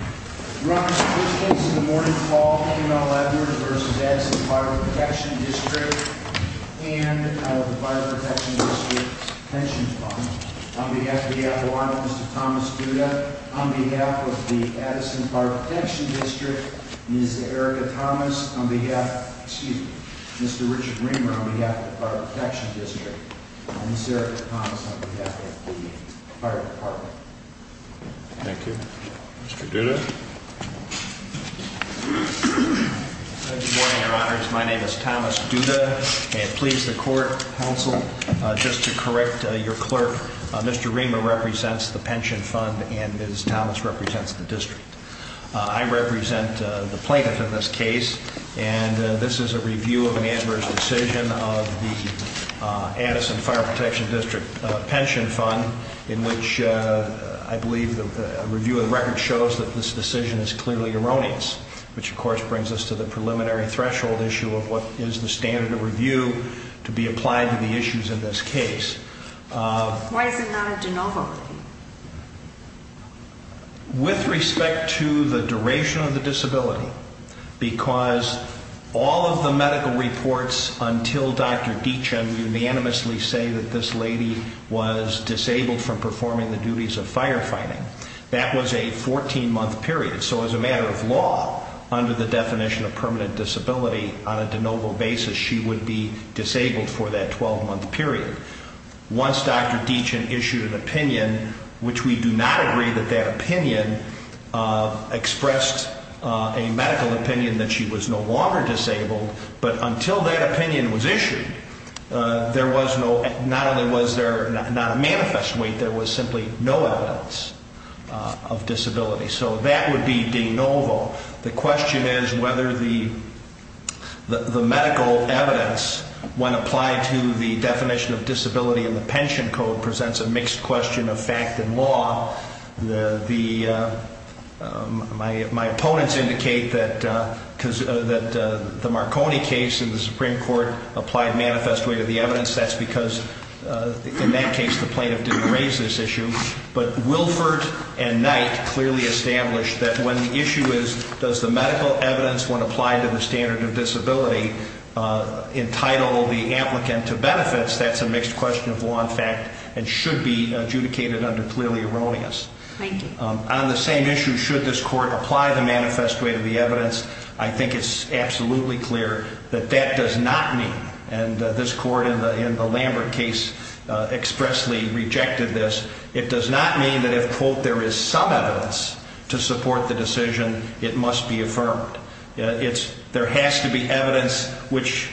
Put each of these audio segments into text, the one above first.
Your Honor, Mr. President, this is a morning call to email letters v. Addison Fire Protection District and of the Fire Protection District's Pension Fund. On behalf of the Adirondacks, Mr. Thomas Duda. On behalf of the Addison Fire Protection District, Ms. Erica Thomas. On behalf, excuse me, Mr. Richard Reamer, on behalf of the Fire Protection District, and Ms. Erica Thomas on behalf of the Fire Department. Thank you. Mr. Duda. Good morning, Your Honors. My name is Thomas Duda. And please, the Court, Counsel, just to correct your clerk, Mr. Reamer represents the Pension Fund and Ms. Thomas represents the District. I represent the plaintiff in this case and this is a review of an adverse decision of the Addison Fire Protection District Pension Fund in which I believe a review of the record shows that this decision is clearly erroneous. Which, of course, brings us to the preliminary threshold issue of what is the standard of review to be applied to the issues in this case. Why is it not a de novo review? With respect to the duration of the disability, because all of the medical reports until Dr. Deachen unanimously say that this lady was disabled from performing the duties of firefighting, that was a 14 month period. So as a matter of law, under the definition of permanent disability, on a de novo basis, she would be disabled for that 12 month period. Once Dr. Deachen issued an opinion, which we do not agree that that opinion expressed a medical opinion that she was no longer disabled, but until that opinion was issued, there was no, not only was there not a manifest weight, there was simply no evidence of disability. So that would be de novo. The question is whether the medical evidence, when applied to the definition of disability in the pension code, presents a mixed question of fact and law. My opponents indicate that the Marconi case in the Supreme Court applied manifest weight of the evidence. That's because in that case the plaintiff didn't raise this issue. But Wilford and Knight clearly established that when the issue is does the medical evidence, when applied to the standard of disability, entitle the applicant to benefits, that's a mixed question of law and fact and should be adjudicated under clearly erroneous. On the same issue, should this court apply the manifest weight of the evidence, I think it's absolutely clear that that does not mean, and this court in the Lambert case expressly rejected this, it does not mean that if, quote, there is some evidence to support the decision, it must be affirmed. There has to be evidence which,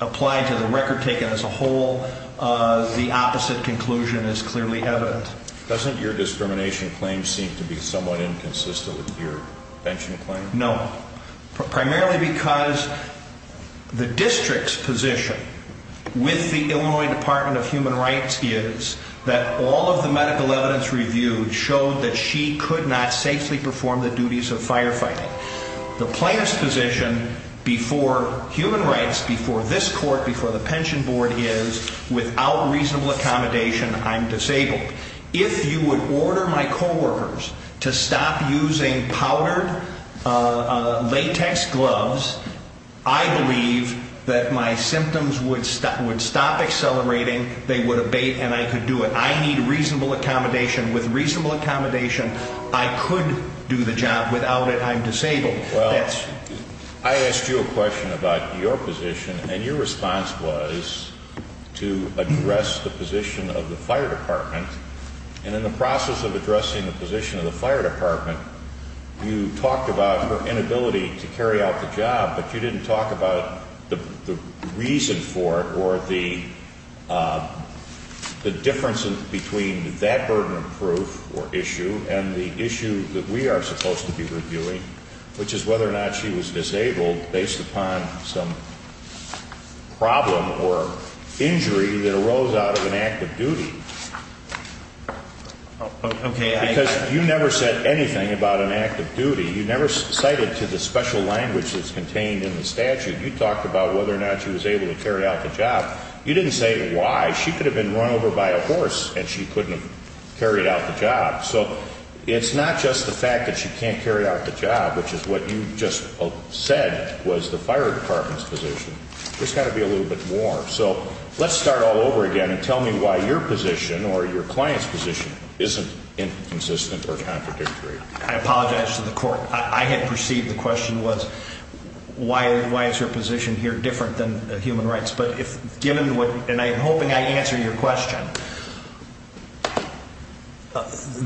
applied to the record taken as a whole, the opposite conclusion is clearly evident. Doesn't your discrimination claim seem to be somewhat inconsistent with your pension claim? No. Primarily because the district's position with the Illinois Department of Human Rights is that all of the medical evidence reviewed showed that she could not safely perform the duties of firefighting. The plaintiff's position before human rights, before this court, before the pension board is, without reasonable accommodation, I'm disabled. If you would order my coworkers to stop using powdered latex gloves, I believe that my symptoms would stop accelerating, they would abate, and I could do it. I need reasonable accommodation. With reasonable accommodation, I could do the job. Without it, I'm disabled. Well, I asked you a question about your position, and your response was to address the position of the fire department. And in the process of addressing the position of the fire department, you talked about her inability to carry out the job, but you didn't talk about the reason for it or the difference between that burden of proof or issue and the issue that we are supposed to be reviewing, which is whether or not she was disabled based upon some problem or injury that arose out of an act of duty. Okay. Because you never said anything about an act of duty. You never cited to the special language that's contained in the statute. You talked about whether or not she was able to carry out the job. You didn't say why. She could have been run over by a horse and she couldn't have carried out the job. So it's not just the fact that she can't carry out the job, which is what you just said was the fire department's position. There's got to be a little bit more. So let's start all over again and tell me why your position or your client's position isn't inconsistent or contradictory. I apologize to the court. I had perceived the question was, why is your position here different than human rights? But given what, and I'm hoping I answered your question,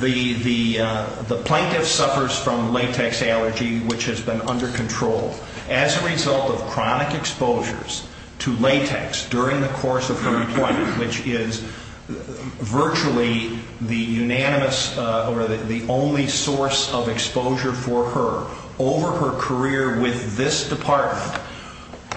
the plaintiff suffers from latex allergy, which has been under control as a result of chronic exposures to latex during the course of her employment, which is virtually the unanimous or the only source of exposure for her. Over her career with this department,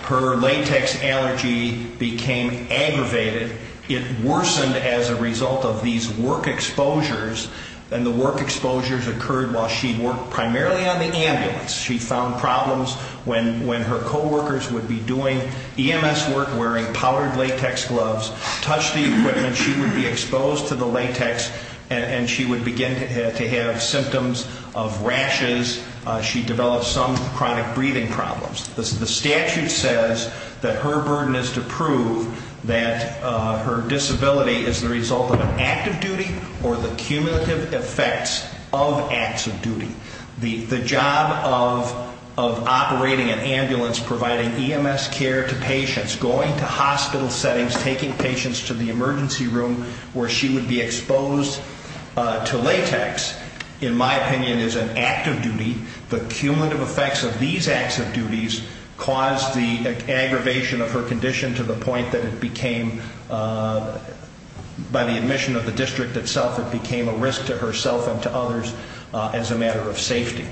her latex allergy became aggravated. It worsened as a result of these work exposures, and the work exposures occurred while she worked primarily on the ambulance. She found problems when her co-workers would be doing EMS work wearing powdered latex gloves, touch the equipment, she would be exposed to the latex, and she would begin to have symptoms of rashes. She developed some chronic breathing problems. The statute says that her burden is to prove that her disability is the result of an act of duty or the cumulative effects of acts of duty. The job of operating an ambulance, providing EMS care to patients, going to hospital settings, taking patients to the emergency room where she would be exposed to latex, in my opinion, is an act of duty. The cumulative effects of these acts of duties caused the aggravation of her condition to the point that it became, by the admission of the district itself, it became a risk to herself and to others as a matter of safety.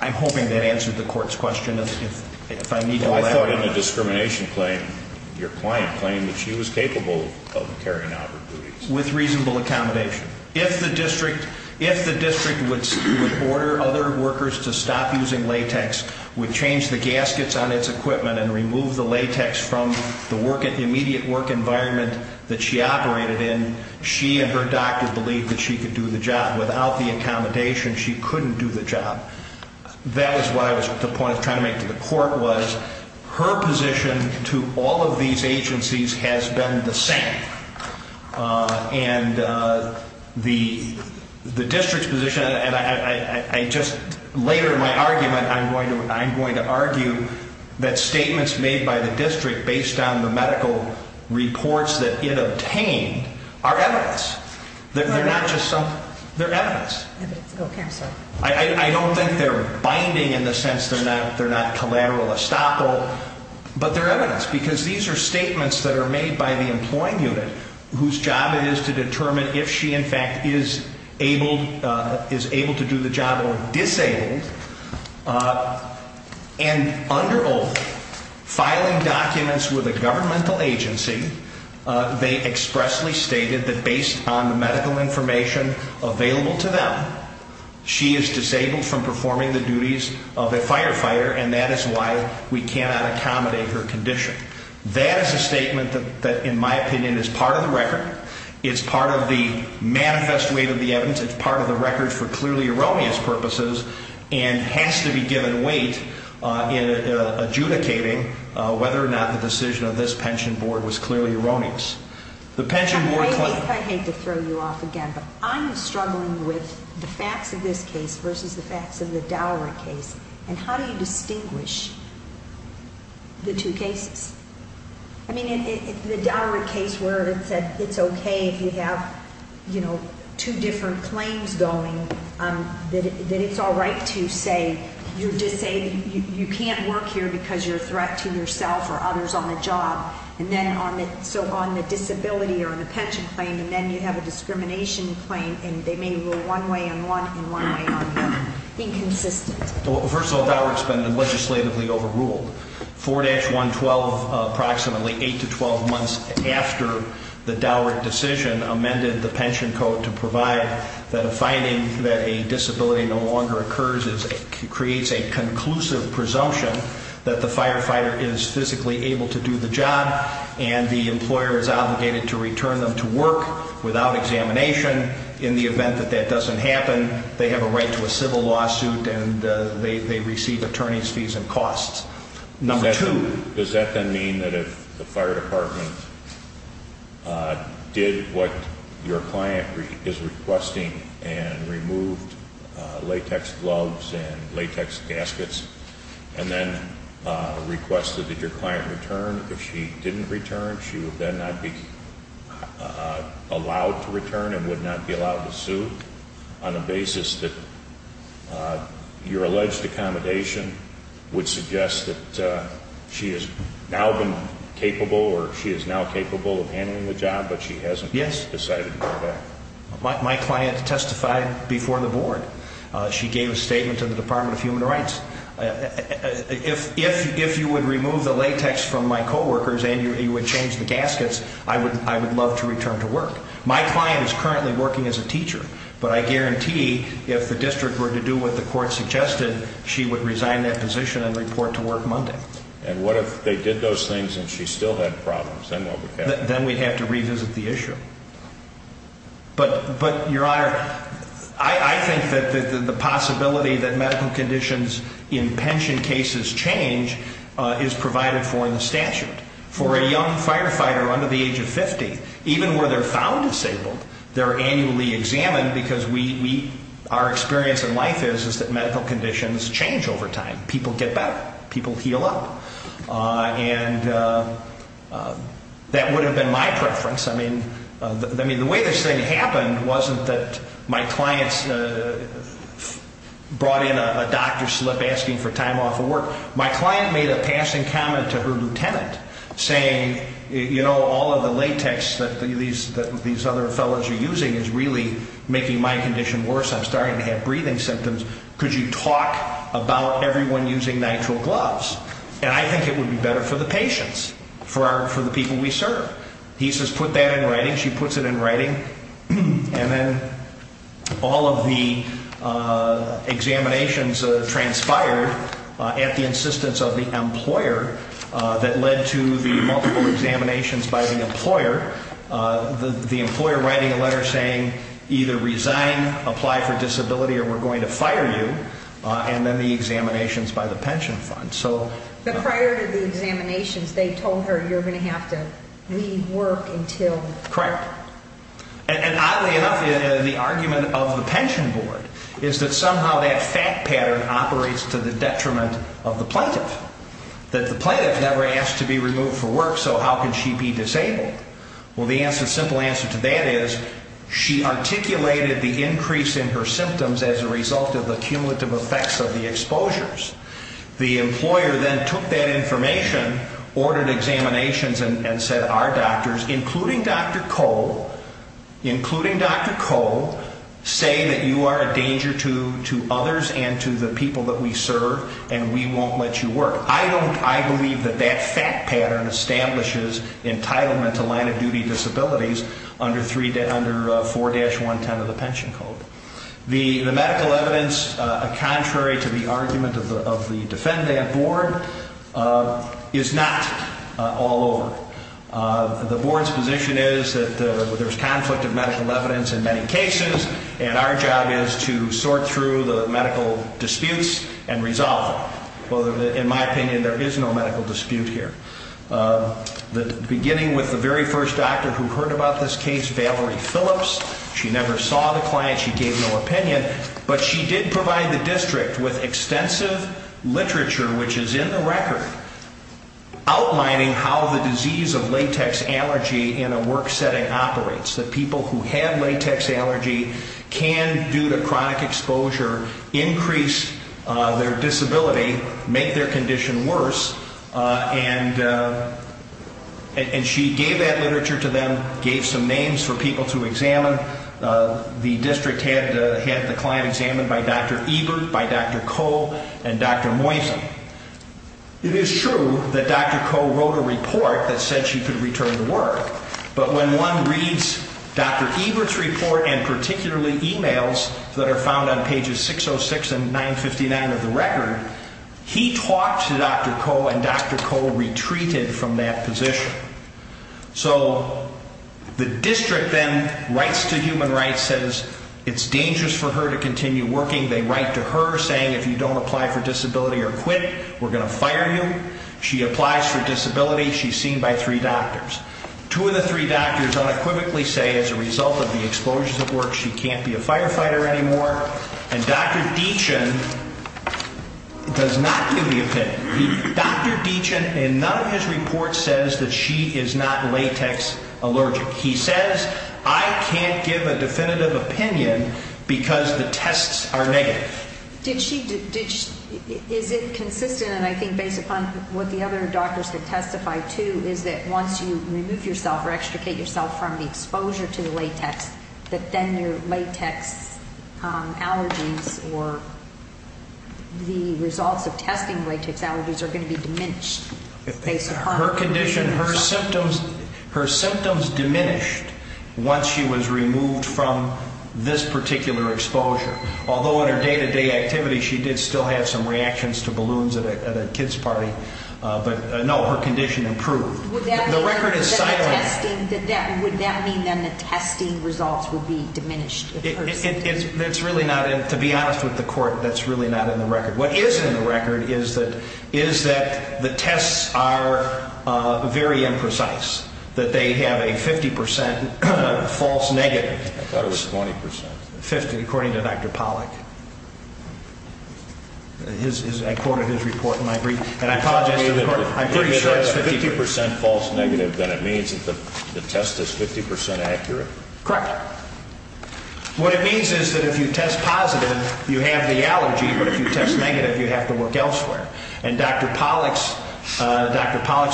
I'm hoping that answered the court's question. I thought in the discrimination claim, your client claimed that she was capable of carrying out her duties. If the district would order other workers to stop using latex, would change the gaskets on its equipment and remove the latex from the immediate work environment that she operated in, she and her doctor believed that she could do the job. Without the accommodation, she couldn't do the job. That is what I was trying to make to the court, was her position to all of these agencies has been the same. And the district's position, and later in my argument, I'm going to argue that statements made by the district based on the medical reports that it obtained are evidence. They're evidence. I don't think they're binding in the sense that they're not collateral estoppel, but they're evidence. Because these are statements that are made by the employing unit, whose job it is to determine if she in fact is able to do the job or disabled. And under oath, filing documents with a governmental agency, they expressly stated that based on the medical information available to them, she is disabled from performing the duties of a firefighter. And that is why we cannot accommodate her condition. That is a statement that, in my opinion, is part of the record. It's part of the manifest weight of the evidence. It's part of the record for clearly erroneous purposes and has to be given weight in adjudicating whether or not the decision of this pension board was clearly erroneous. I hate to throw you off again, but I'm struggling with the facts of this case versus the facts of the Dower case. And how do you distinguish the two cases? I mean, the Dower case where it said it's okay if you have two different claims going, that it's all right to say you're disabled. You can't work here because you're a threat to yourself or others on the job. So on the disability or on the pension claim, and then you have a discrimination claim, and they may rule one way on one and one way on the other. Inconsistent. Well, first of all, Dower's been legislatively overruled. 4-112, approximately 8 to 12 months after the Dower decision amended the pension code to provide that a finding that a disability no longer occurs creates a conclusive presumption that the firefighter is physically able to do the job and the employer is obligated to return them to work without examination. In the event that that doesn't happen, they have a right to a civil lawsuit and they receive attorney's fees and costs. Number two. Does that then mean that if the fire department did what your client is requesting and removed latex gloves and latex gaskets, and then requested that your client return, if she didn't return, she would then not be allowed to return and would not be allowed to sue on the basis that your alleged accommodation would suggest that she has now been capable or she is now capable of handling the job, but she hasn't decided to do that? Yes. My client testified before the board. She gave a statement to the Department of Human Rights. If you would remove the latex from my coworkers and you would change the gaskets, I would love to return to work. My client is currently working as a teacher, but I guarantee if the district were to do what the court suggested, she would resign that position and report to work Monday. And what if they did those things and she still had problems? Then what would happen? Then we'd have to revisit the issue. But, Your Honor, I think that the possibility that medical conditions in pension cases change is provided for in the statute. For a young firefighter under the age of 50, even where they're found disabled, they're annually examined because our experience in life is that medical conditions change over time. People get better. People heal up. And that would have been my preference. I mean, the way this thing happened wasn't that my clients brought in a doctor slip asking for time off of work. My client made a passing comment to her lieutenant saying, you know, all of the latex that these other fellows are using is really making my condition worse. I'm starting to have breathing symptoms. Could you talk about everyone using nitrile gloves? And I think it would be better for the patients, for the people we serve. He says put that in writing. She puts it in writing. And then all of the examinations transpired at the insistence of the employer that led to the multiple examinations by the employer. The employer writing a letter saying either resign, apply for disability, or we're going to fire you. And then the examinations by the pension fund. But prior to the examinations, they told her you're going to have to leave work until? Correct. And oddly enough, the argument of the pension board is that somehow that fact pattern operates to the detriment of the plaintiff. That the plaintiff never asked to be removed for work, so how can she be disabled? Well, the simple answer to that is she articulated the increase in her symptoms as a result of the cumulative effects of the exposures. The employer then took that information, ordered examinations, and said our doctors, including Dr. Cole, including Dr. Cole, say that you are a danger to others and to the people that we serve, and we won't let you work. I believe that that fact pattern establishes entitlement to line-of-duty disabilities under 4-110 of the pension code. The medical evidence, contrary to the argument of the defendant board, is not all over. The board's position is that there's conflict of medical evidence in many cases, and our job is to sort through the medical disputes and resolve them. In my opinion, there is no medical dispute here. Beginning with the very first doctor who heard about this case, Valerie Phillips, she never saw the client, she gave no opinion, but she did provide the district with extensive literature, which is in the record, outlining how the disease of latex allergy in a work setting operates, that people who have latex allergy can, due to chronic exposure, increase their disability, make their condition worse, and she gave that literature to them, gave some names for people to examine. The district had the client examined by Dr. Ebert, by Dr. Cole, and Dr. Moisen. It is true that Dr. Cole wrote a report that said she could return to work, but when one reads Dr. Ebert's report, and particularly emails that are found on pages 606 and 959 of the record, he talked to Dr. Cole, and Dr. Cole retreated from that position. So the district then writes to Human Rights, says it's dangerous for her to continue working, they write to her saying if you don't apply for disability or quit, we're going to fire you. She applies for disability, she's seen by three doctors. Two of the three doctors unequivocally say as a result of the exposures at work, she can't be a firefighter anymore, and Dr. Deachin does not give the opinion. Dr. Deachin in none of his reports says that she is not latex allergic. He says I can't give a definitive opinion because the tests are negative. Is it consistent, and I think based upon what the other doctors have testified to, is that once you remove yourself or extricate yourself from the exposure to the latex, that then your latex allergies or the results of testing latex allergies are going to be diminished? Her condition, her symptoms diminished once she was removed from this particular exposure. Although in her day-to-day activity she did still have some reactions to balloons at a kid's party, but no, her condition improved. The record is silent. Would that mean then the testing results would be diminished? To be honest with the court, that's really not in the record. What is in the record is that the tests are very imprecise, that they have a 50% false negative. I thought it was 20%. 50% according to Dr. Pollack. I quoted his report in my brief, and I apologize to the court. I'm pretty sure it's 50%. If it has a 50% false negative, then it means that the test is 50% accurate? Correct. What it means is that if you test positive, you have the allergy, but if you test negative, you have to work elsewhere. And Dr. Pollack's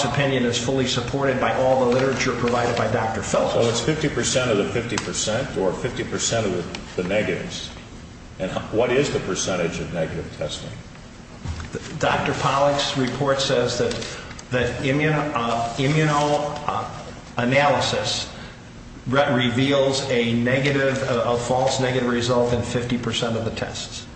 opinion is fully supported by all the literature provided by Dr. Phillips. So it's 50% of the 50% or 50% of the negatives. And what is the percentage of negative testing? Dr. Pollack's report says that immunoanalysis reveals a false negative result in 50% of the tests.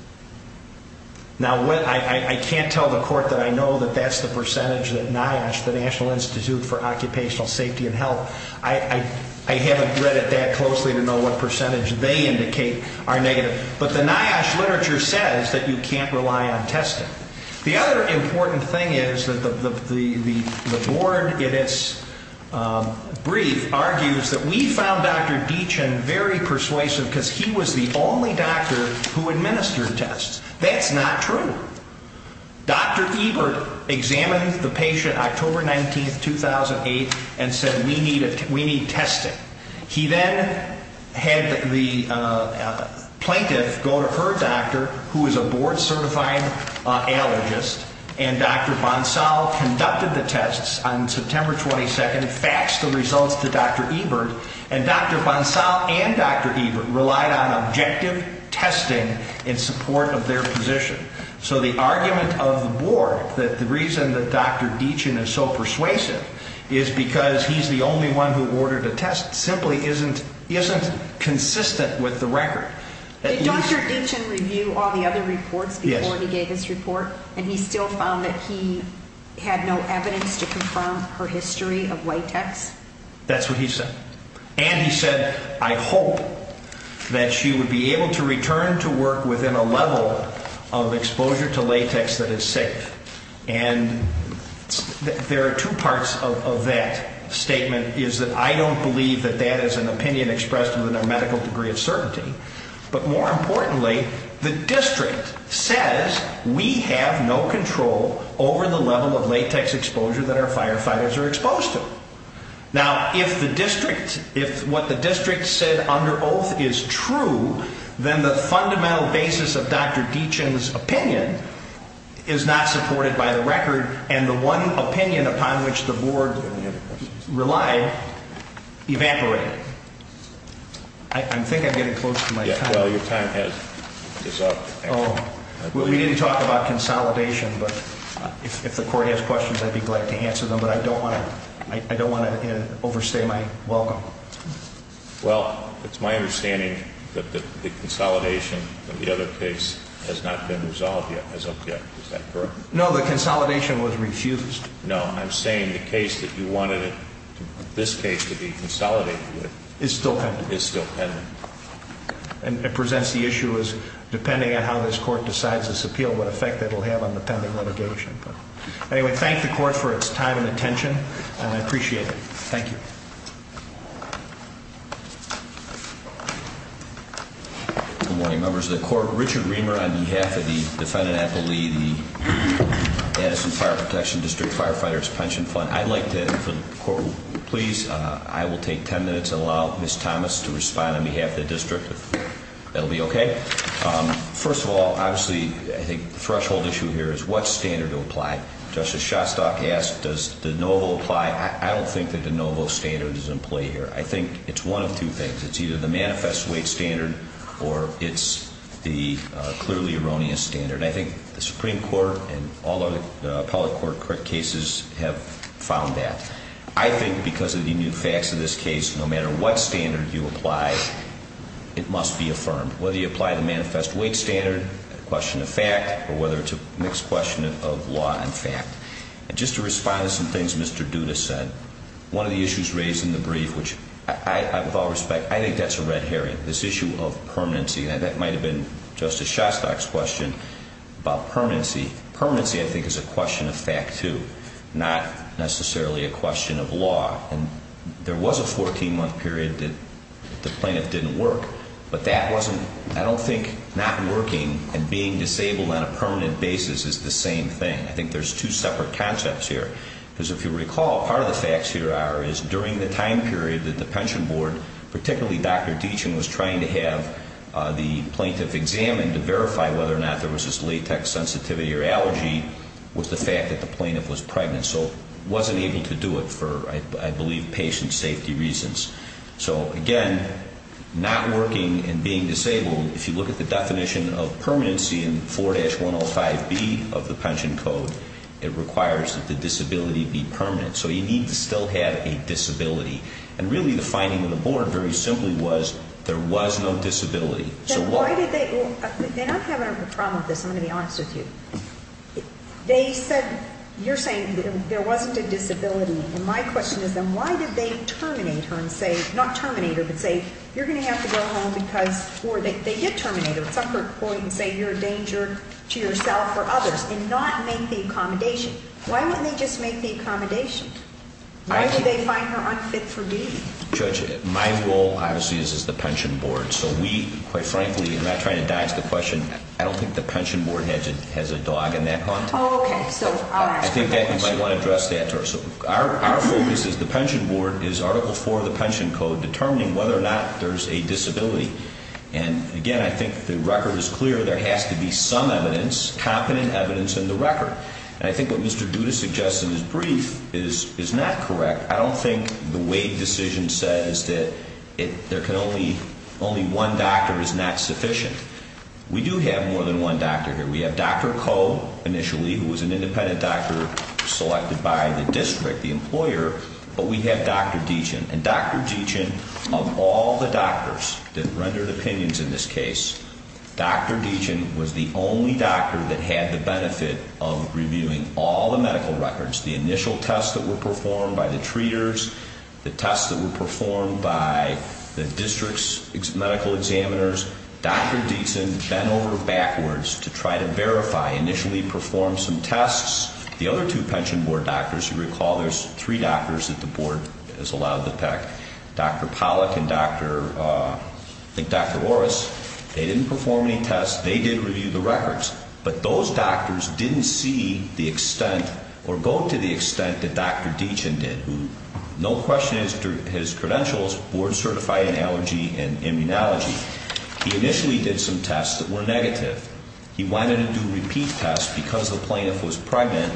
Now, I can't tell the court that I know that that's the percentage that NIOSH, the National Institute for Occupational Safety and Health, I haven't read it that closely to know what percentage they indicate are negative. But the NIOSH literature says that you can't rely on testing. The other important thing is that the board, in its brief, argues that we found Dr. Deachin very persuasive because he was the only doctor who administered tests. That's not true. Dr. Ebert examined the patient October 19, 2008, and said, we need testing. He then had the plaintiff go to her doctor, who is a board-certified allergist, and Dr. Bonsall conducted the tests on September 22nd and faxed the results to Dr. Ebert. And Dr. Bonsall and Dr. Ebert relied on objective testing in support of their position. So the argument of the board that the reason that Dr. Deachin is so persuasive is because he's the only one who ordered a test simply isn't consistent with the record. Did Dr. Deachin review all the other reports before he gave his report, and he still found that he had no evidence to confirm her history of white techs? That's what he said. And he said, I hope that she would be able to return to work within a level of exposure to latex that is safe. And there are two parts of that statement, is that I don't believe that that is an opinion expressed within a medical degree of certainty. But more importantly, the district says we have no control over the level of latex exposure that our firefighters are exposed to. Now, if what the district said under oath is true, then the fundamental basis of Dr. Deachin's opinion is not supported by the record, and the one opinion upon which the board relied evaporated. I think I'm getting close to my time. Well, your time is up. We didn't talk about consolidation, but if the court has questions, I'd be glad to answer them. But I don't want to overstay my welcome. Well, it's my understanding that the consolidation of the other case has not been resolved as of yet. Is that correct? No, the consolidation was refused. No, I'm saying the case that you wanted this case to be consolidated with is still pending. And it presents the issue as depending on how this court decides this appeal, what effect it will have on the pending litigation. Anyway, thank the court for its time and attention, and I appreciate it. Thank you. Good morning, members of the court. Richard Reamer on behalf of the defendant, Apple Lee, the Addison Fire Protection District Firefighters Pension Fund. I'd like to, for the court, please, I will take ten minutes and allow Ms. Thomas to respond on behalf of the district, if that will be okay. First of all, obviously, I think the threshold issue here is what standard to apply. Justice Shostak asked, does the NOVO apply? I don't think that the NOVO standard is in play here. I think it's one of two things. It's either the manifest weight standard or it's the clearly erroneous standard. I think the Supreme Court and all of the appellate court cases have found that. I think because of the new facts of this case, no matter what standard you apply, it must be affirmed. Whether you apply the manifest weight standard, a question of fact, or whether it's a mixed question of law and fact. And just to respond to some things Mr. Duda said, one of the issues raised in the brief, which I, with all respect, I think that's a red herring. This issue of permanency, and that might have been Justice Shostak's question about permanency. Permanency, I think, is a question of fact, too, not necessarily a question of law. And there was a 14-month period that the plaintiff didn't work. But that wasn't, I don't think not working and being disabled on a permanent basis is the same thing. I think there's two separate concepts here. Because if you recall, part of the facts here are, is during the time period that the pension board, particularly Dr. Deachin, was trying to have the plaintiff examined to verify whether or not there was this latex sensitivity or allergy, was the fact that the plaintiff was pregnant. So wasn't able to do it for, I believe, patient safety reasons. So, again, not working and being disabled, if you look at the definition of permanency in 4-105B of the pension code, it requires that the disability be permanent. So you need to still have a disability. And really the finding of the board, very simply, was there was no disability. So why did they, they're not having a problem with this, I'm going to be honest with you. They said, you're saying there wasn't a disability. And my question is then, why did they terminate her and say, not terminate her, but say, you're going to have to go home because, or they did terminate her at some point and say, you're a danger to yourself or others, and not make the accommodation. Why wouldn't they just make the accommodation? Why did they find her unfit for duty? Judge, my role, obviously, is as the pension board. So we, quite frankly, I'm not trying to dodge the question. I don't think the pension board has a dog in that context. Oh, okay. So, all right. I think that you might want to address that to her. So our focus is the pension board is Article 4 of the pension code, determining whether or not there's a disability. And, again, I think the record is clear. There has to be some evidence, competent evidence in the record. And I think what Mr. Duda suggests in his brief is not correct. I don't think the Wade decision says that there can only, only one doctor is not sufficient. We do have more than one doctor here. We have Dr. Koh, initially, who was an independent doctor selected by the district, the employer. But we have Dr. Deachin. And Dr. Deachin, of all the doctors that rendered opinions in this case, Dr. Deachin was the only doctor that had the benefit of reviewing all the medical records, the initial tests that were performed by the treaters, the tests that were performed by the district's medical examiners. Dr. Deachin bent over backwards to try to verify, initially performed some tests. The other two pension board doctors, you recall, there's three doctors that the board has allowed to peck, Dr. Pollack and Dr., I think Dr. Orris. They didn't perform any tests. They did review the records. But those doctors didn't see the extent or go to the extent that Dr. Deachin did, who, no question, his credentials, board certified in allergy and immunology. He initially did some tests that were negative. He wanted to do repeat tests because the plaintiff was pregnant.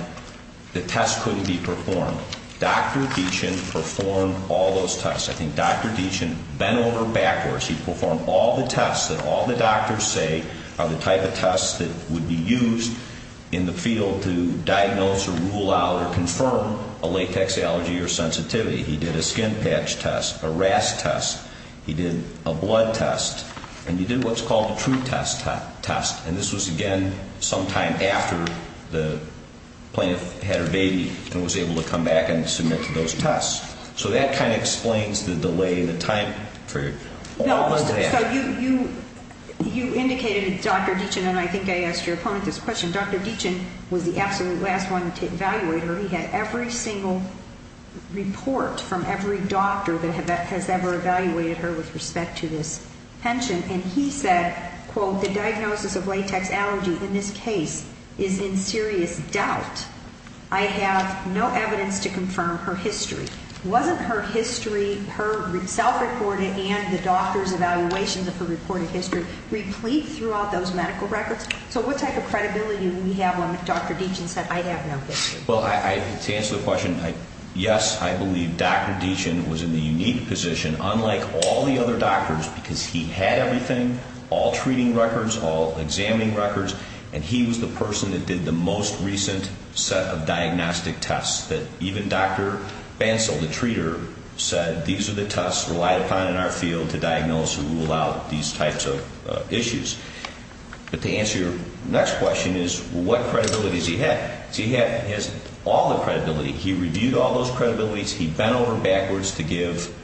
The tests couldn't be performed. Dr. Deachin performed all those tests. I think Dr. Deachin bent over backwards. He performed all the tests that all the doctors say are the type of tests that would be used in the field to diagnose or rule out or confirm a latex allergy or sensitivity. He did a skin patch test, a RAS test. He did a blood test. And he did what's called a true test, and this was, again, sometime after the plaintiff had her baby and was able to come back and submit to those tests. So that kind of explains the delay in the time period. So you indicated to Dr. Deachin, and I think I asked your opponent this question, Dr. Deachin was the absolute last one to evaluate her. He had every single report from every doctor that has ever evaluated her with respect to this pension. And he said, quote, the diagnosis of latex allergy in this case is in serious doubt. I have no evidence to confirm her history. Wasn't her history, her self-reported and the doctor's evaluations of her reported history, replete throughout those medical records? So what type of credibility do we have when Dr. Deachin said, I have no history? Well, to answer the question, yes, I believe Dr. Deachin was in the unique position, unlike all the other doctors because he had everything, all treating records, all examining records, and he was the person that did the most recent set of diagnostic tests that even Dr. Bansal, the treater, said these are the tests relied upon in our field to diagnose and rule out these types of issues. But to answer your next question is what credibility does he have? He has all the credibility. He reviewed all those credibilities. He bent over backwards to give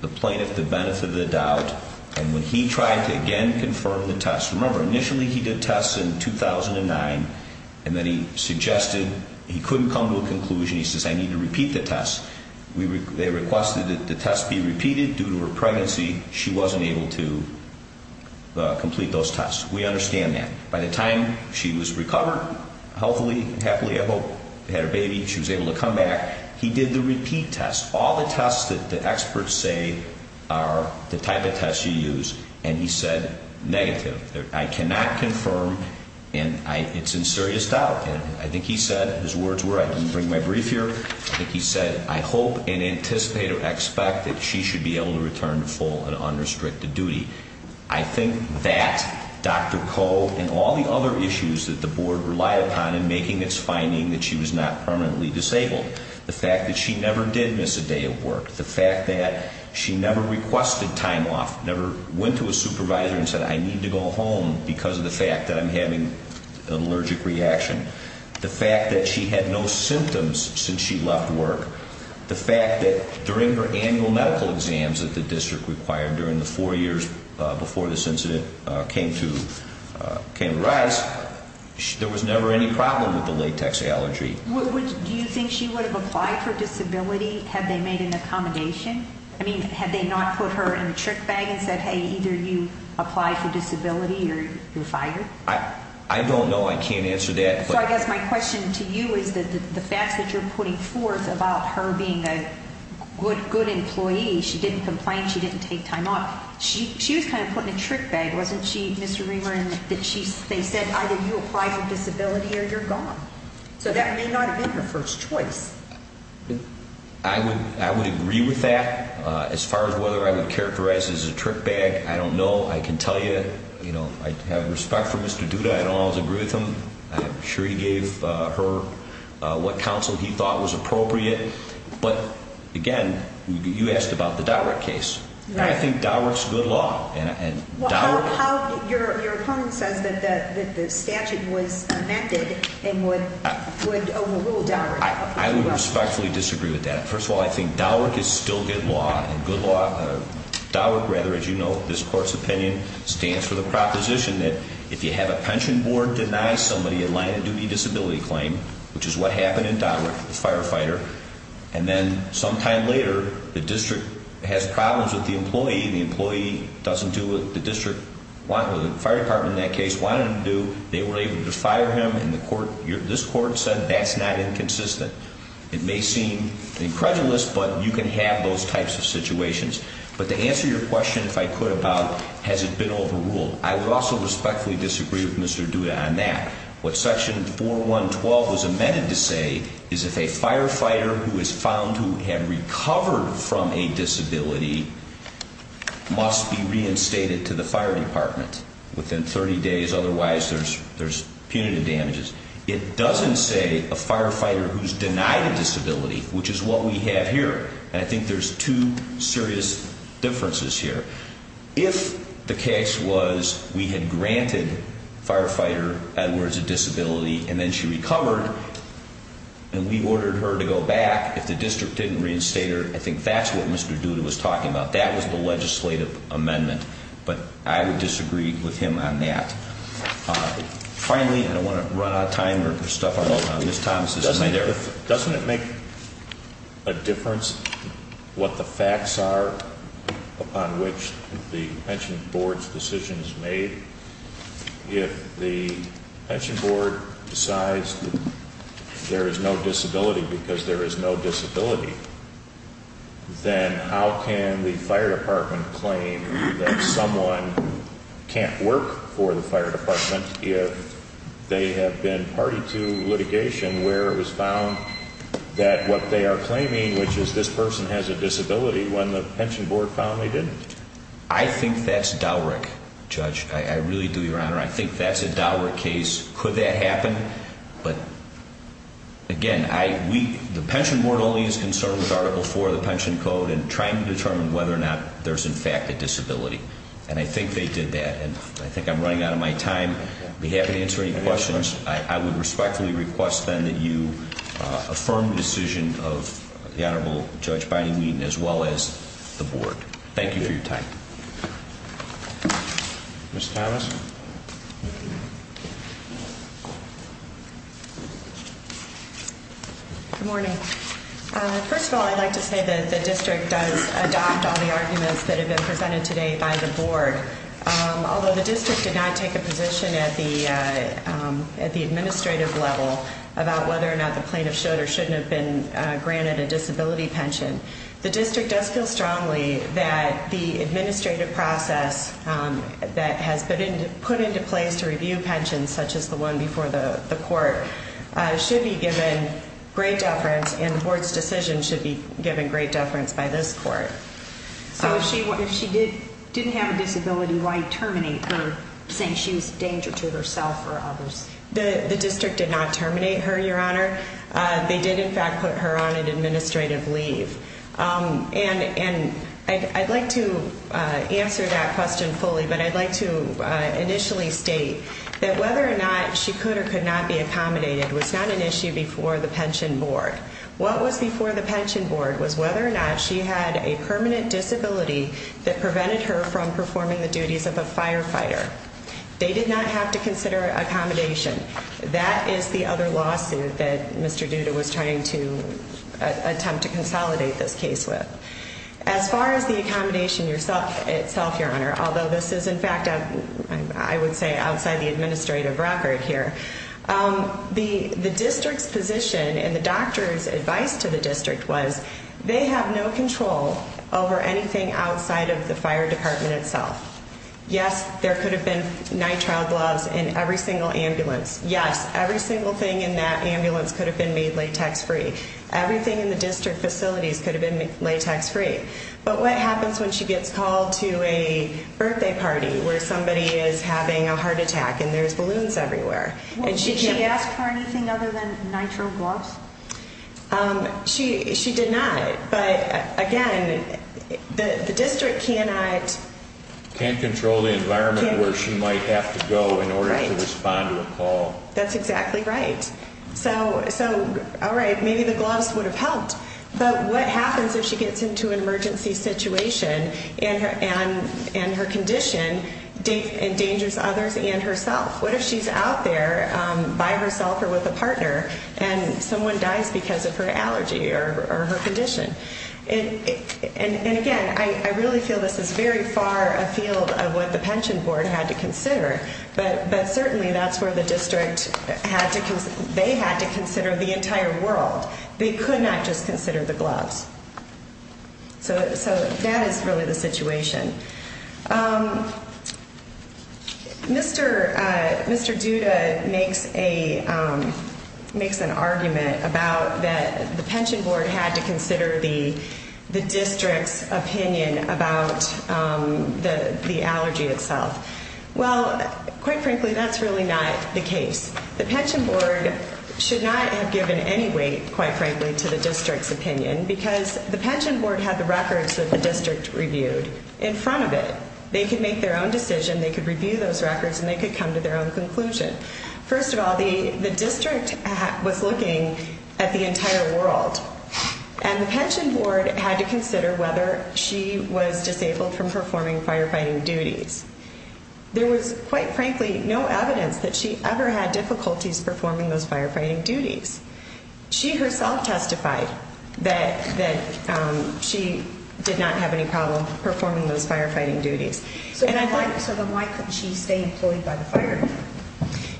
the plaintiff the benefit of the doubt. And when he tried to, again, confirm the tests, remember, initially he did tests in 2009, and then he suggested he couldn't come to a conclusion. He says, I need to repeat the tests. They requested that the tests be repeated due to her pregnancy. She wasn't able to complete those tests. We understand that. By the time she was recovered healthily and happily, I hope, had her baby, she was able to come back, he did the repeat tests, all the tests that the experts say are the type of tests you use, and he said negative. I cannot confirm, and it's in serious doubt. I think he said, his words were, I didn't bring my brief here. I think he said, I hope and anticipate or expect that she should be able to return to full and unrestricted duty. I think that Dr. Koh and all the other issues that the board relied upon in making this finding that she was not permanently disabled, the fact that she never did miss a day of work, the fact that she never requested time off, never went to a supervisor and said, I need to go home because of the fact that I'm having an allergic reaction, the fact that she had no symptoms since she left work, the fact that during her annual medical exams that the district required during the four years before this incident came to rise, there was never any problem with the latex allergy. Do you think she would have applied for disability had they made an accommodation? I mean, had they not put her in a trick bag and said, hey, either you apply for disability or you're fired? I don't know. I can't answer that. So I guess my question to you is that the facts that you're putting forth about her being a good employee, she didn't complain, she didn't take time off, she was kind of put in a trick bag, wasn't she, Mr. Reamer, in that they said either you apply for disability or you're gone. So that may not have been her first choice. I would agree with that. As far as whether I would characterize it as a trick bag, I don't know. I can tell you, you know, I have respect for Mr. Duda. I don't always agree with him. I'm sure he gave her what counsel he thought was appropriate. But, again, you asked about the Dowrick case. I think Dowrick's good law. Your opponent says that the statute was amended and would overrule Dowrick. I would respectfully disagree with that. First of all, I think Dowrick is still good law, and good law. Dowrick, rather, as you know, this Court's opinion, stands for the proposition that if you have a pension board deny somebody a line of duty disability claim, which is what happened in Dowrick, the firefighter, and then sometime later the district has problems with the employee, the employee doesn't do what the fire department in that case wanted him to do. They were able to fire him, and this Court said that's not inconsistent. It may seem incredulous, but you can have those types of situations. But to answer your question, if I could, about has it been overruled, I would also respectfully disagree with Mr. Duda on that. What Section 4.1.12 was amended to say is if a firefighter who is found who had recovered from a disability must be reinstated to the fire department within 30 days, otherwise there's punitive damages. It doesn't say a firefighter who's denied a disability, which is what we have here, and I think there's two serious differences here. If the case was we had granted firefighter Edwards a disability and then she recovered and we ordered her to go back, if the district didn't reinstate her, I think that's what Mr. Duda was talking about. That was the legislative amendment. But I would disagree with him on that. Finally, I don't want to run out of time or stuff on Ms. Thomas' amendment. Doesn't it make a difference what the facts are upon which the pension board's decision is made? If the pension board decides that there is no disability because there is no disability, then how can the fire department claim that someone can't work for the fire department if they have been party to litigation where it was found that what they are claiming, which is this person has a disability, when the pension board found they didn't? I think that's DOWRIC, Judge. I really do, Your Honor. I think that's a DOWRIC case. Could that happen? But, again, the pension board only is concerned with Article IV of the Pension Code and trying to determine whether or not there's, in fact, a disability. And I think they did that. And I think I'm running out of my time. I'd be happy to answer any questions. I would respectfully request, then, that you affirm the decision of the Honorable Judge Biden-Wheaton, as well as the board. Thank you for your time. Ms. Thomas? Good morning. First of all, I'd like to say that the district does adopt all the arguments that have been presented today by the board. Although the district did not take a position at the administrative level about whether or not the plaintiff should or shouldn't have been granted a disability pension, the district does feel strongly that the administrative process that has been put into place to review pensions, such as the one before the court, should be given great deference, and the board's decision should be given great deference by this court. So if she didn't have a disability, why terminate her, saying she was a danger to herself or others? The district did not terminate her, Your Honor. They did, in fact, put her on an administrative leave. And I'd like to answer that question fully, but I'd like to initially state that whether or not she could or could not be accommodated was not an issue before the pension board. What was before the pension board was whether or not she had a permanent disability that prevented her from performing the duties of a firefighter. They did not have to consider accommodation. That is the other lawsuit that Mr. Duda was trying to attempt to consolidate this case with. As far as the accommodation itself, Your Honor, although this is, in fact, I would say outside the administrative record here, the district's position and the doctor's advice to the district was they have no control over anything outside of the fire department itself. Yes, there could have been nitrile gloves in every single ambulance. Yes, every single thing in that ambulance could have been made latex-free. Everything in the district facilities could have been made latex-free. But what happens when she gets called to a birthday party where somebody is having a heart attack and there's balloons everywhere? Did she ask for anything other than nitrile gloves? She did not. But, again, the district cannot... Can't control the environment where she might have to go in order to respond to a call. That's exactly right. So, all right, maybe the gloves would have helped. But what happens if she gets into an emergency situation and her condition endangers others and herself? What if she's out there by herself or with a partner and someone dies because of her allergy or her condition? And, again, I really feel this is very far afield of what the pension board had to consider, but certainly that's where the district had to... They had to consider the entire world. They could not just consider the gloves. So that is really the situation. Mr. Duda makes an argument about that the pension board had to consider the district's opinion about the allergy itself. Well, quite frankly, that's really not the case. The pension board should not have given any weight, quite frankly, to the district's opinion because the pension board had the records that the district reviewed in front of it. They could make their own decision, they could review those records, and they could come to their own conclusion. First of all, the district was looking at the entire world, and the pension board had to consider whether she was disabled from performing firefighting duties. There was, quite frankly, no evidence that she ever had difficulties performing those firefighting duties. She herself testified that she did not have any problem performing those firefighting duties. So then why couldn't she stay employed by the fire department?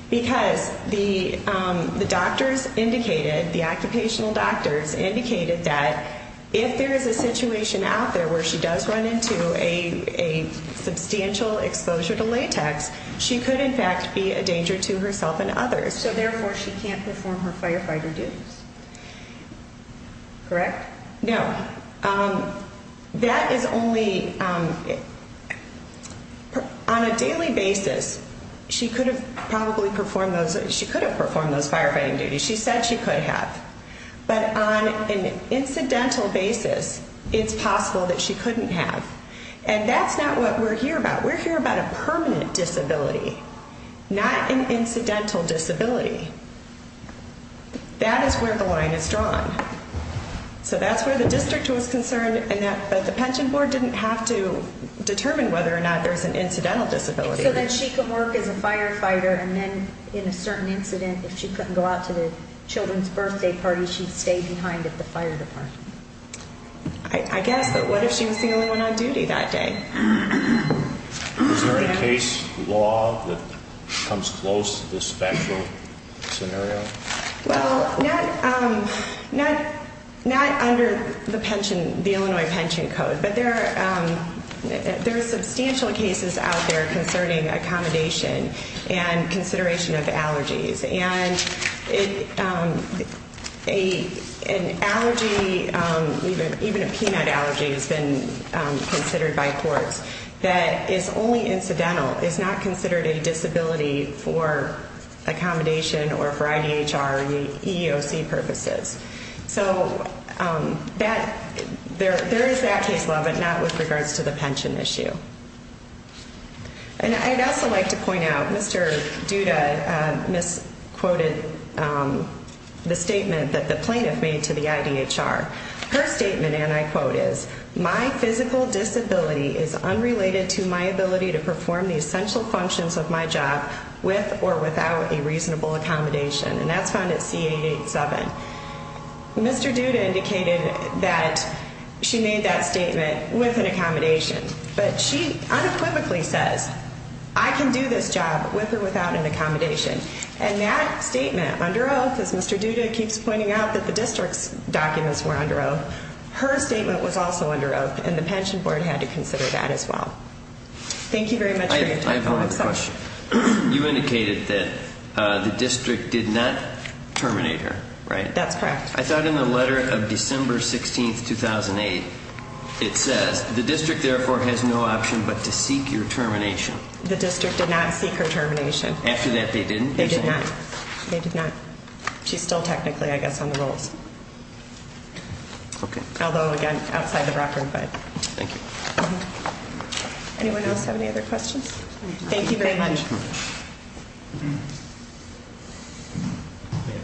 Because the doctors indicated, the occupational doctors indicated, that if there is a situation out there where she does run into a substantial exposure to latex, she could, in fact, be a danger to herself and others. So, therefore, she can't perform her firefighting duties. Correct? No. That is only, on a daily basis, she could have probably performed those, she could have performed those firefighting duties. She said she could have. But on an incidental basis, it's possible that she couldn't have. And that's not what we're here about. We're here about a permanent disability, not an incidental disability. That is where the line is drawn. So that's where the district was concerned, but the pension board didn't have to determine whether or not there's an incidental disability. So that she could work as a firefighter and then, in a certain incident, if she couldn't go out to the children's birthday party, she'd stay behind at the fire department. I guess, but what if she was the only one on duty that day? Is there a case law that comes close to this special scenario? Well, not under the pension, the Illinois Pension Code, but there are substantial cases out there concerning accommodation and consideration of allergies. And an allergy, even a peanut allergy, has been considered by courts that is only incidental, is not considered a disability for accommodation or for IDHR or EEOC purposes. So there is that case law, but not with regards to the pension issue. And I'd also like to point out, Mr. Duda misquoted the statement that the plaintiff made to the IDHR. Her statement, and I quote, is, My physical disability is unrelated to my ability to perform the essential functions of my job with or without a reasonable accommodation. And that's found at C887. Mr. Duda indicated that she made that statement with an accommodation, but she unequivocally says, I can do this job with or without an accommodation. And that statement, under oath, as Mr. Duda keeps pointing out, that the district's documents were under oath, her statement was also under oath, and the pension board had to consider that as well. Thank you very much for your time. You indicated that the district did not terminate her, right? That's correct. I thought in the letter of December 16, 2008, it says, The district, therefore, has no option but to seek your termination. The district did not seek her termination. After that, they didn't? They did not. They did not. She's still technically, I guess, on the rolls. Okay. Although, again, outside the record, but. Thank you. Anyone else have any other questions? Thank you very much.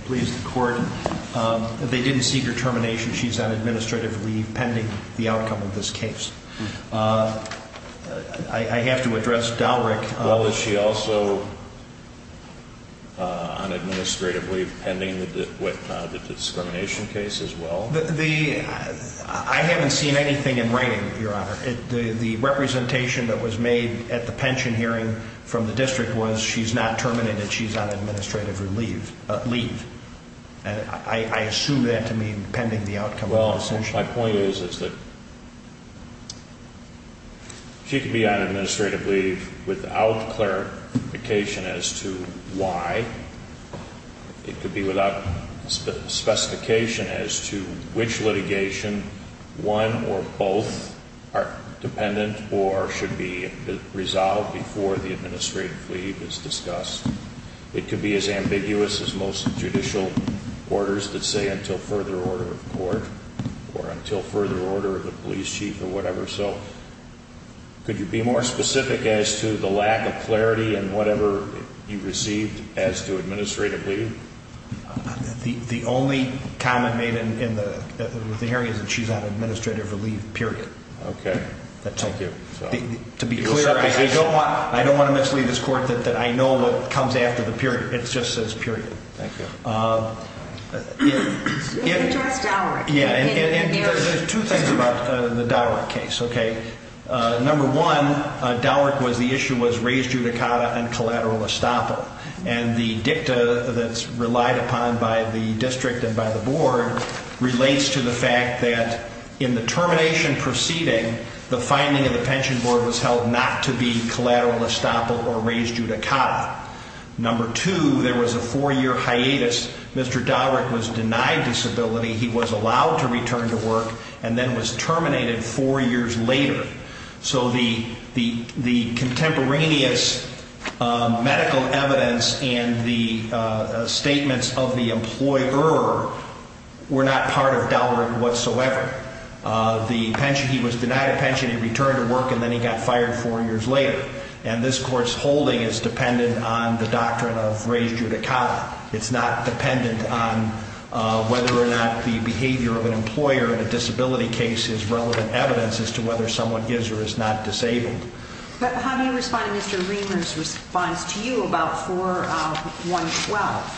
Please, the court. They didn't seek her termination. She's on administrative leave pending the outcome of this case. I have to address Dalryk. Well, is she also on administrative leave pending the discrimination case as well? I haven't seen anything in writing, Your Honor. The representation that was made at the pension hearing from the district was, She's not terminated. She's on administrative leave. I assume that to mean pending the outcome of this. Well, my point is that she could be on administrative leave without clarification as to why. It could be without specification as to which litigation one or both are dependent or should be resolved before the administrative leave is discussed. It could be as ambiguous as most judicial orders that say until further order of court or until further order of the police chief or whatever. Could you be more specific as to the lack of clarity in whatever you received as to administrative leave? The only comment made in the hearing is that she's on administrative leave, period. Okay. Thank you. To be clear, I don't want to mislead this court that I know what comes after the period. It just says period. Thank you. You can address Dalryk. There's two things about the Dalryk case. Number one, Dalryk was the issue was raised judicata and collateral estoppel. And the dicta that's relied upon by the district and by the board relates to the fact that in the termination proceeding, the finding of the pension board was held not to be collateral estoppel or raised judicata. Number two, there was a four-year hiatus. Mr. Dalryk was denied disability. He was allowed to return to work and then was terminated four years later. So the contemporaneous medical evidence and the statements of the employer were not part of Dalryk whatsoever. He was denied a pension. He returned to work, and then he got fired four years later. And this court's holding is dependent on the doctrine of raised judicata. It's not dependent on whether or not the behavior of an employer in a disability case is relevant evidence as to whether someone is or is not disabled. How do you respond to Mr. Reamer's response to you about 4-1-12?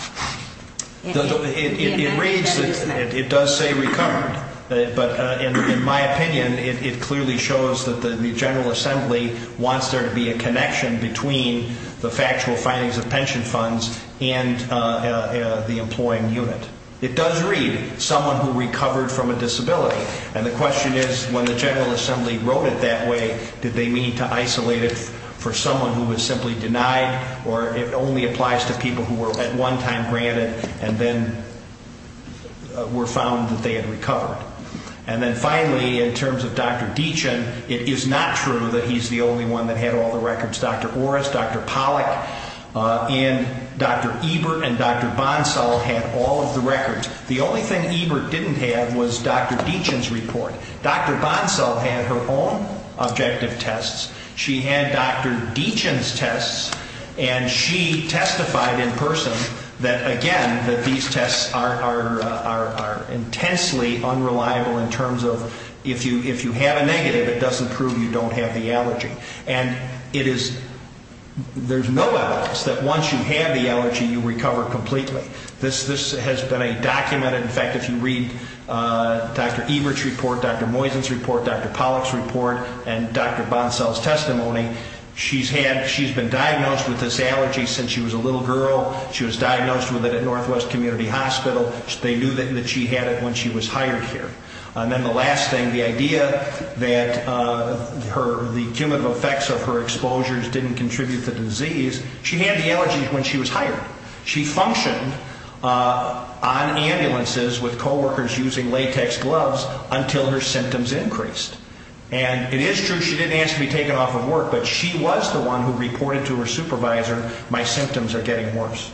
It does say recovered. But in my opinion, it clearly shows that the General Assembly wants there to be a connection between the factual findings of pension funds and the employing unit. It does read someone who recovered from a disability. And the question is, when the General Assembly wrote it that way, did they mean to isolate it for someone who was simply denied, or it only applies to people who were at one time granted and then were found that they had recovered? And then finally, in terms of Dr. Deachin, it is not true that he's the only one that had all the records. Dr. Orris, Dr. Pollack, and Dr. Ebert and Dr. Bonsall had all of the records. The only thing Ebert didn't have was Dr. Deachin's report. Dr. Bonsall had her own objective tests. She had Dr. Deachin's tests, and she testified in person that, again, that these tests are intensely unreliable in terms of if you have a negative, it doesn't prove you don't have the allergy. And there's no evidence that once you have the allergy, you recover completely. This has been documented. In fact, if you read Dr. Ebert's report, Dr. Moysen's report, Dr. Pollack's report, and Dr. Bonsall's testimony, she's been diagnosed with this allergy since she was a little girl. She was diagnosed with it at Northwest Community Hospital. They knew that she had it when she was hired here. And then the last thing, the idea that the cumulative effects of her exposures didn't contribute to the disease, she had the allergy when she was hired. She functioned on ambulances with coworkers using latex gloves until her symptoms increased. And it is true she didn't ask to be taken off of work, but she was the one who reported to her supervisor, my symptoms are getting worse.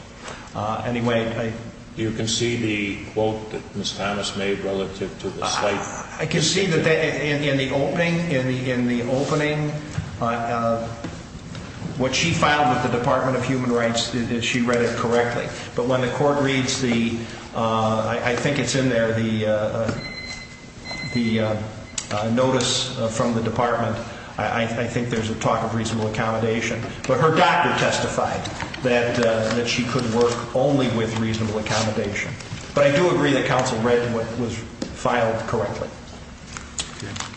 Anyway, I... You can see the quote that Ms. Thomas made relative to the site? I can see that in the opening, what she filed with the Department of Human Rights, she read it correctly. But when the court reads the, I think it's in there, the notice from the department, I think there's a talk of reasonable accommodation. But her doctor testified that she could work only with reasonable accommodation. But I do agree that counsel read what was filed correctly.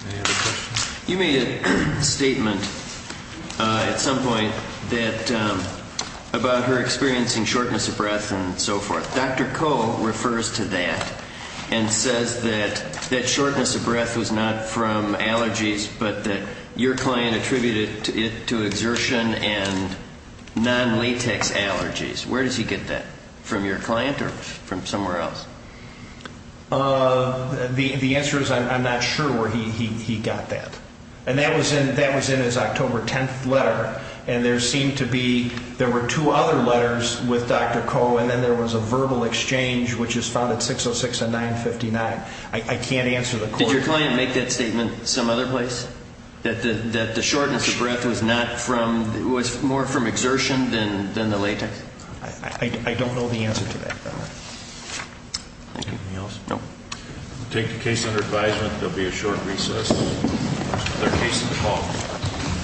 Any other questions? You made a statement at some point about her experiencing shortness of breath and so forth. Dr. Koh refers to that and says that that shortness of breath was not from allergies, but that your client attributed it to exertion and non-latex allergies. Where does he get that, from your client or from somewhere else? The answer is I'm not sure where he got that. And that was in his October 10th letter. And there seemed to be, there were two other letters with Dr. Koh, and then there was a verbal exchange, which is found at 606 and 959. I can't answer the court. Did your client make that statement some other place, that the shortness of breath was not from, was more from exertion than the latex? I don't know the answer to that. Thank you. Anything else? No. We'll take the case under advisement. There will be a short recess. That's the case of the call.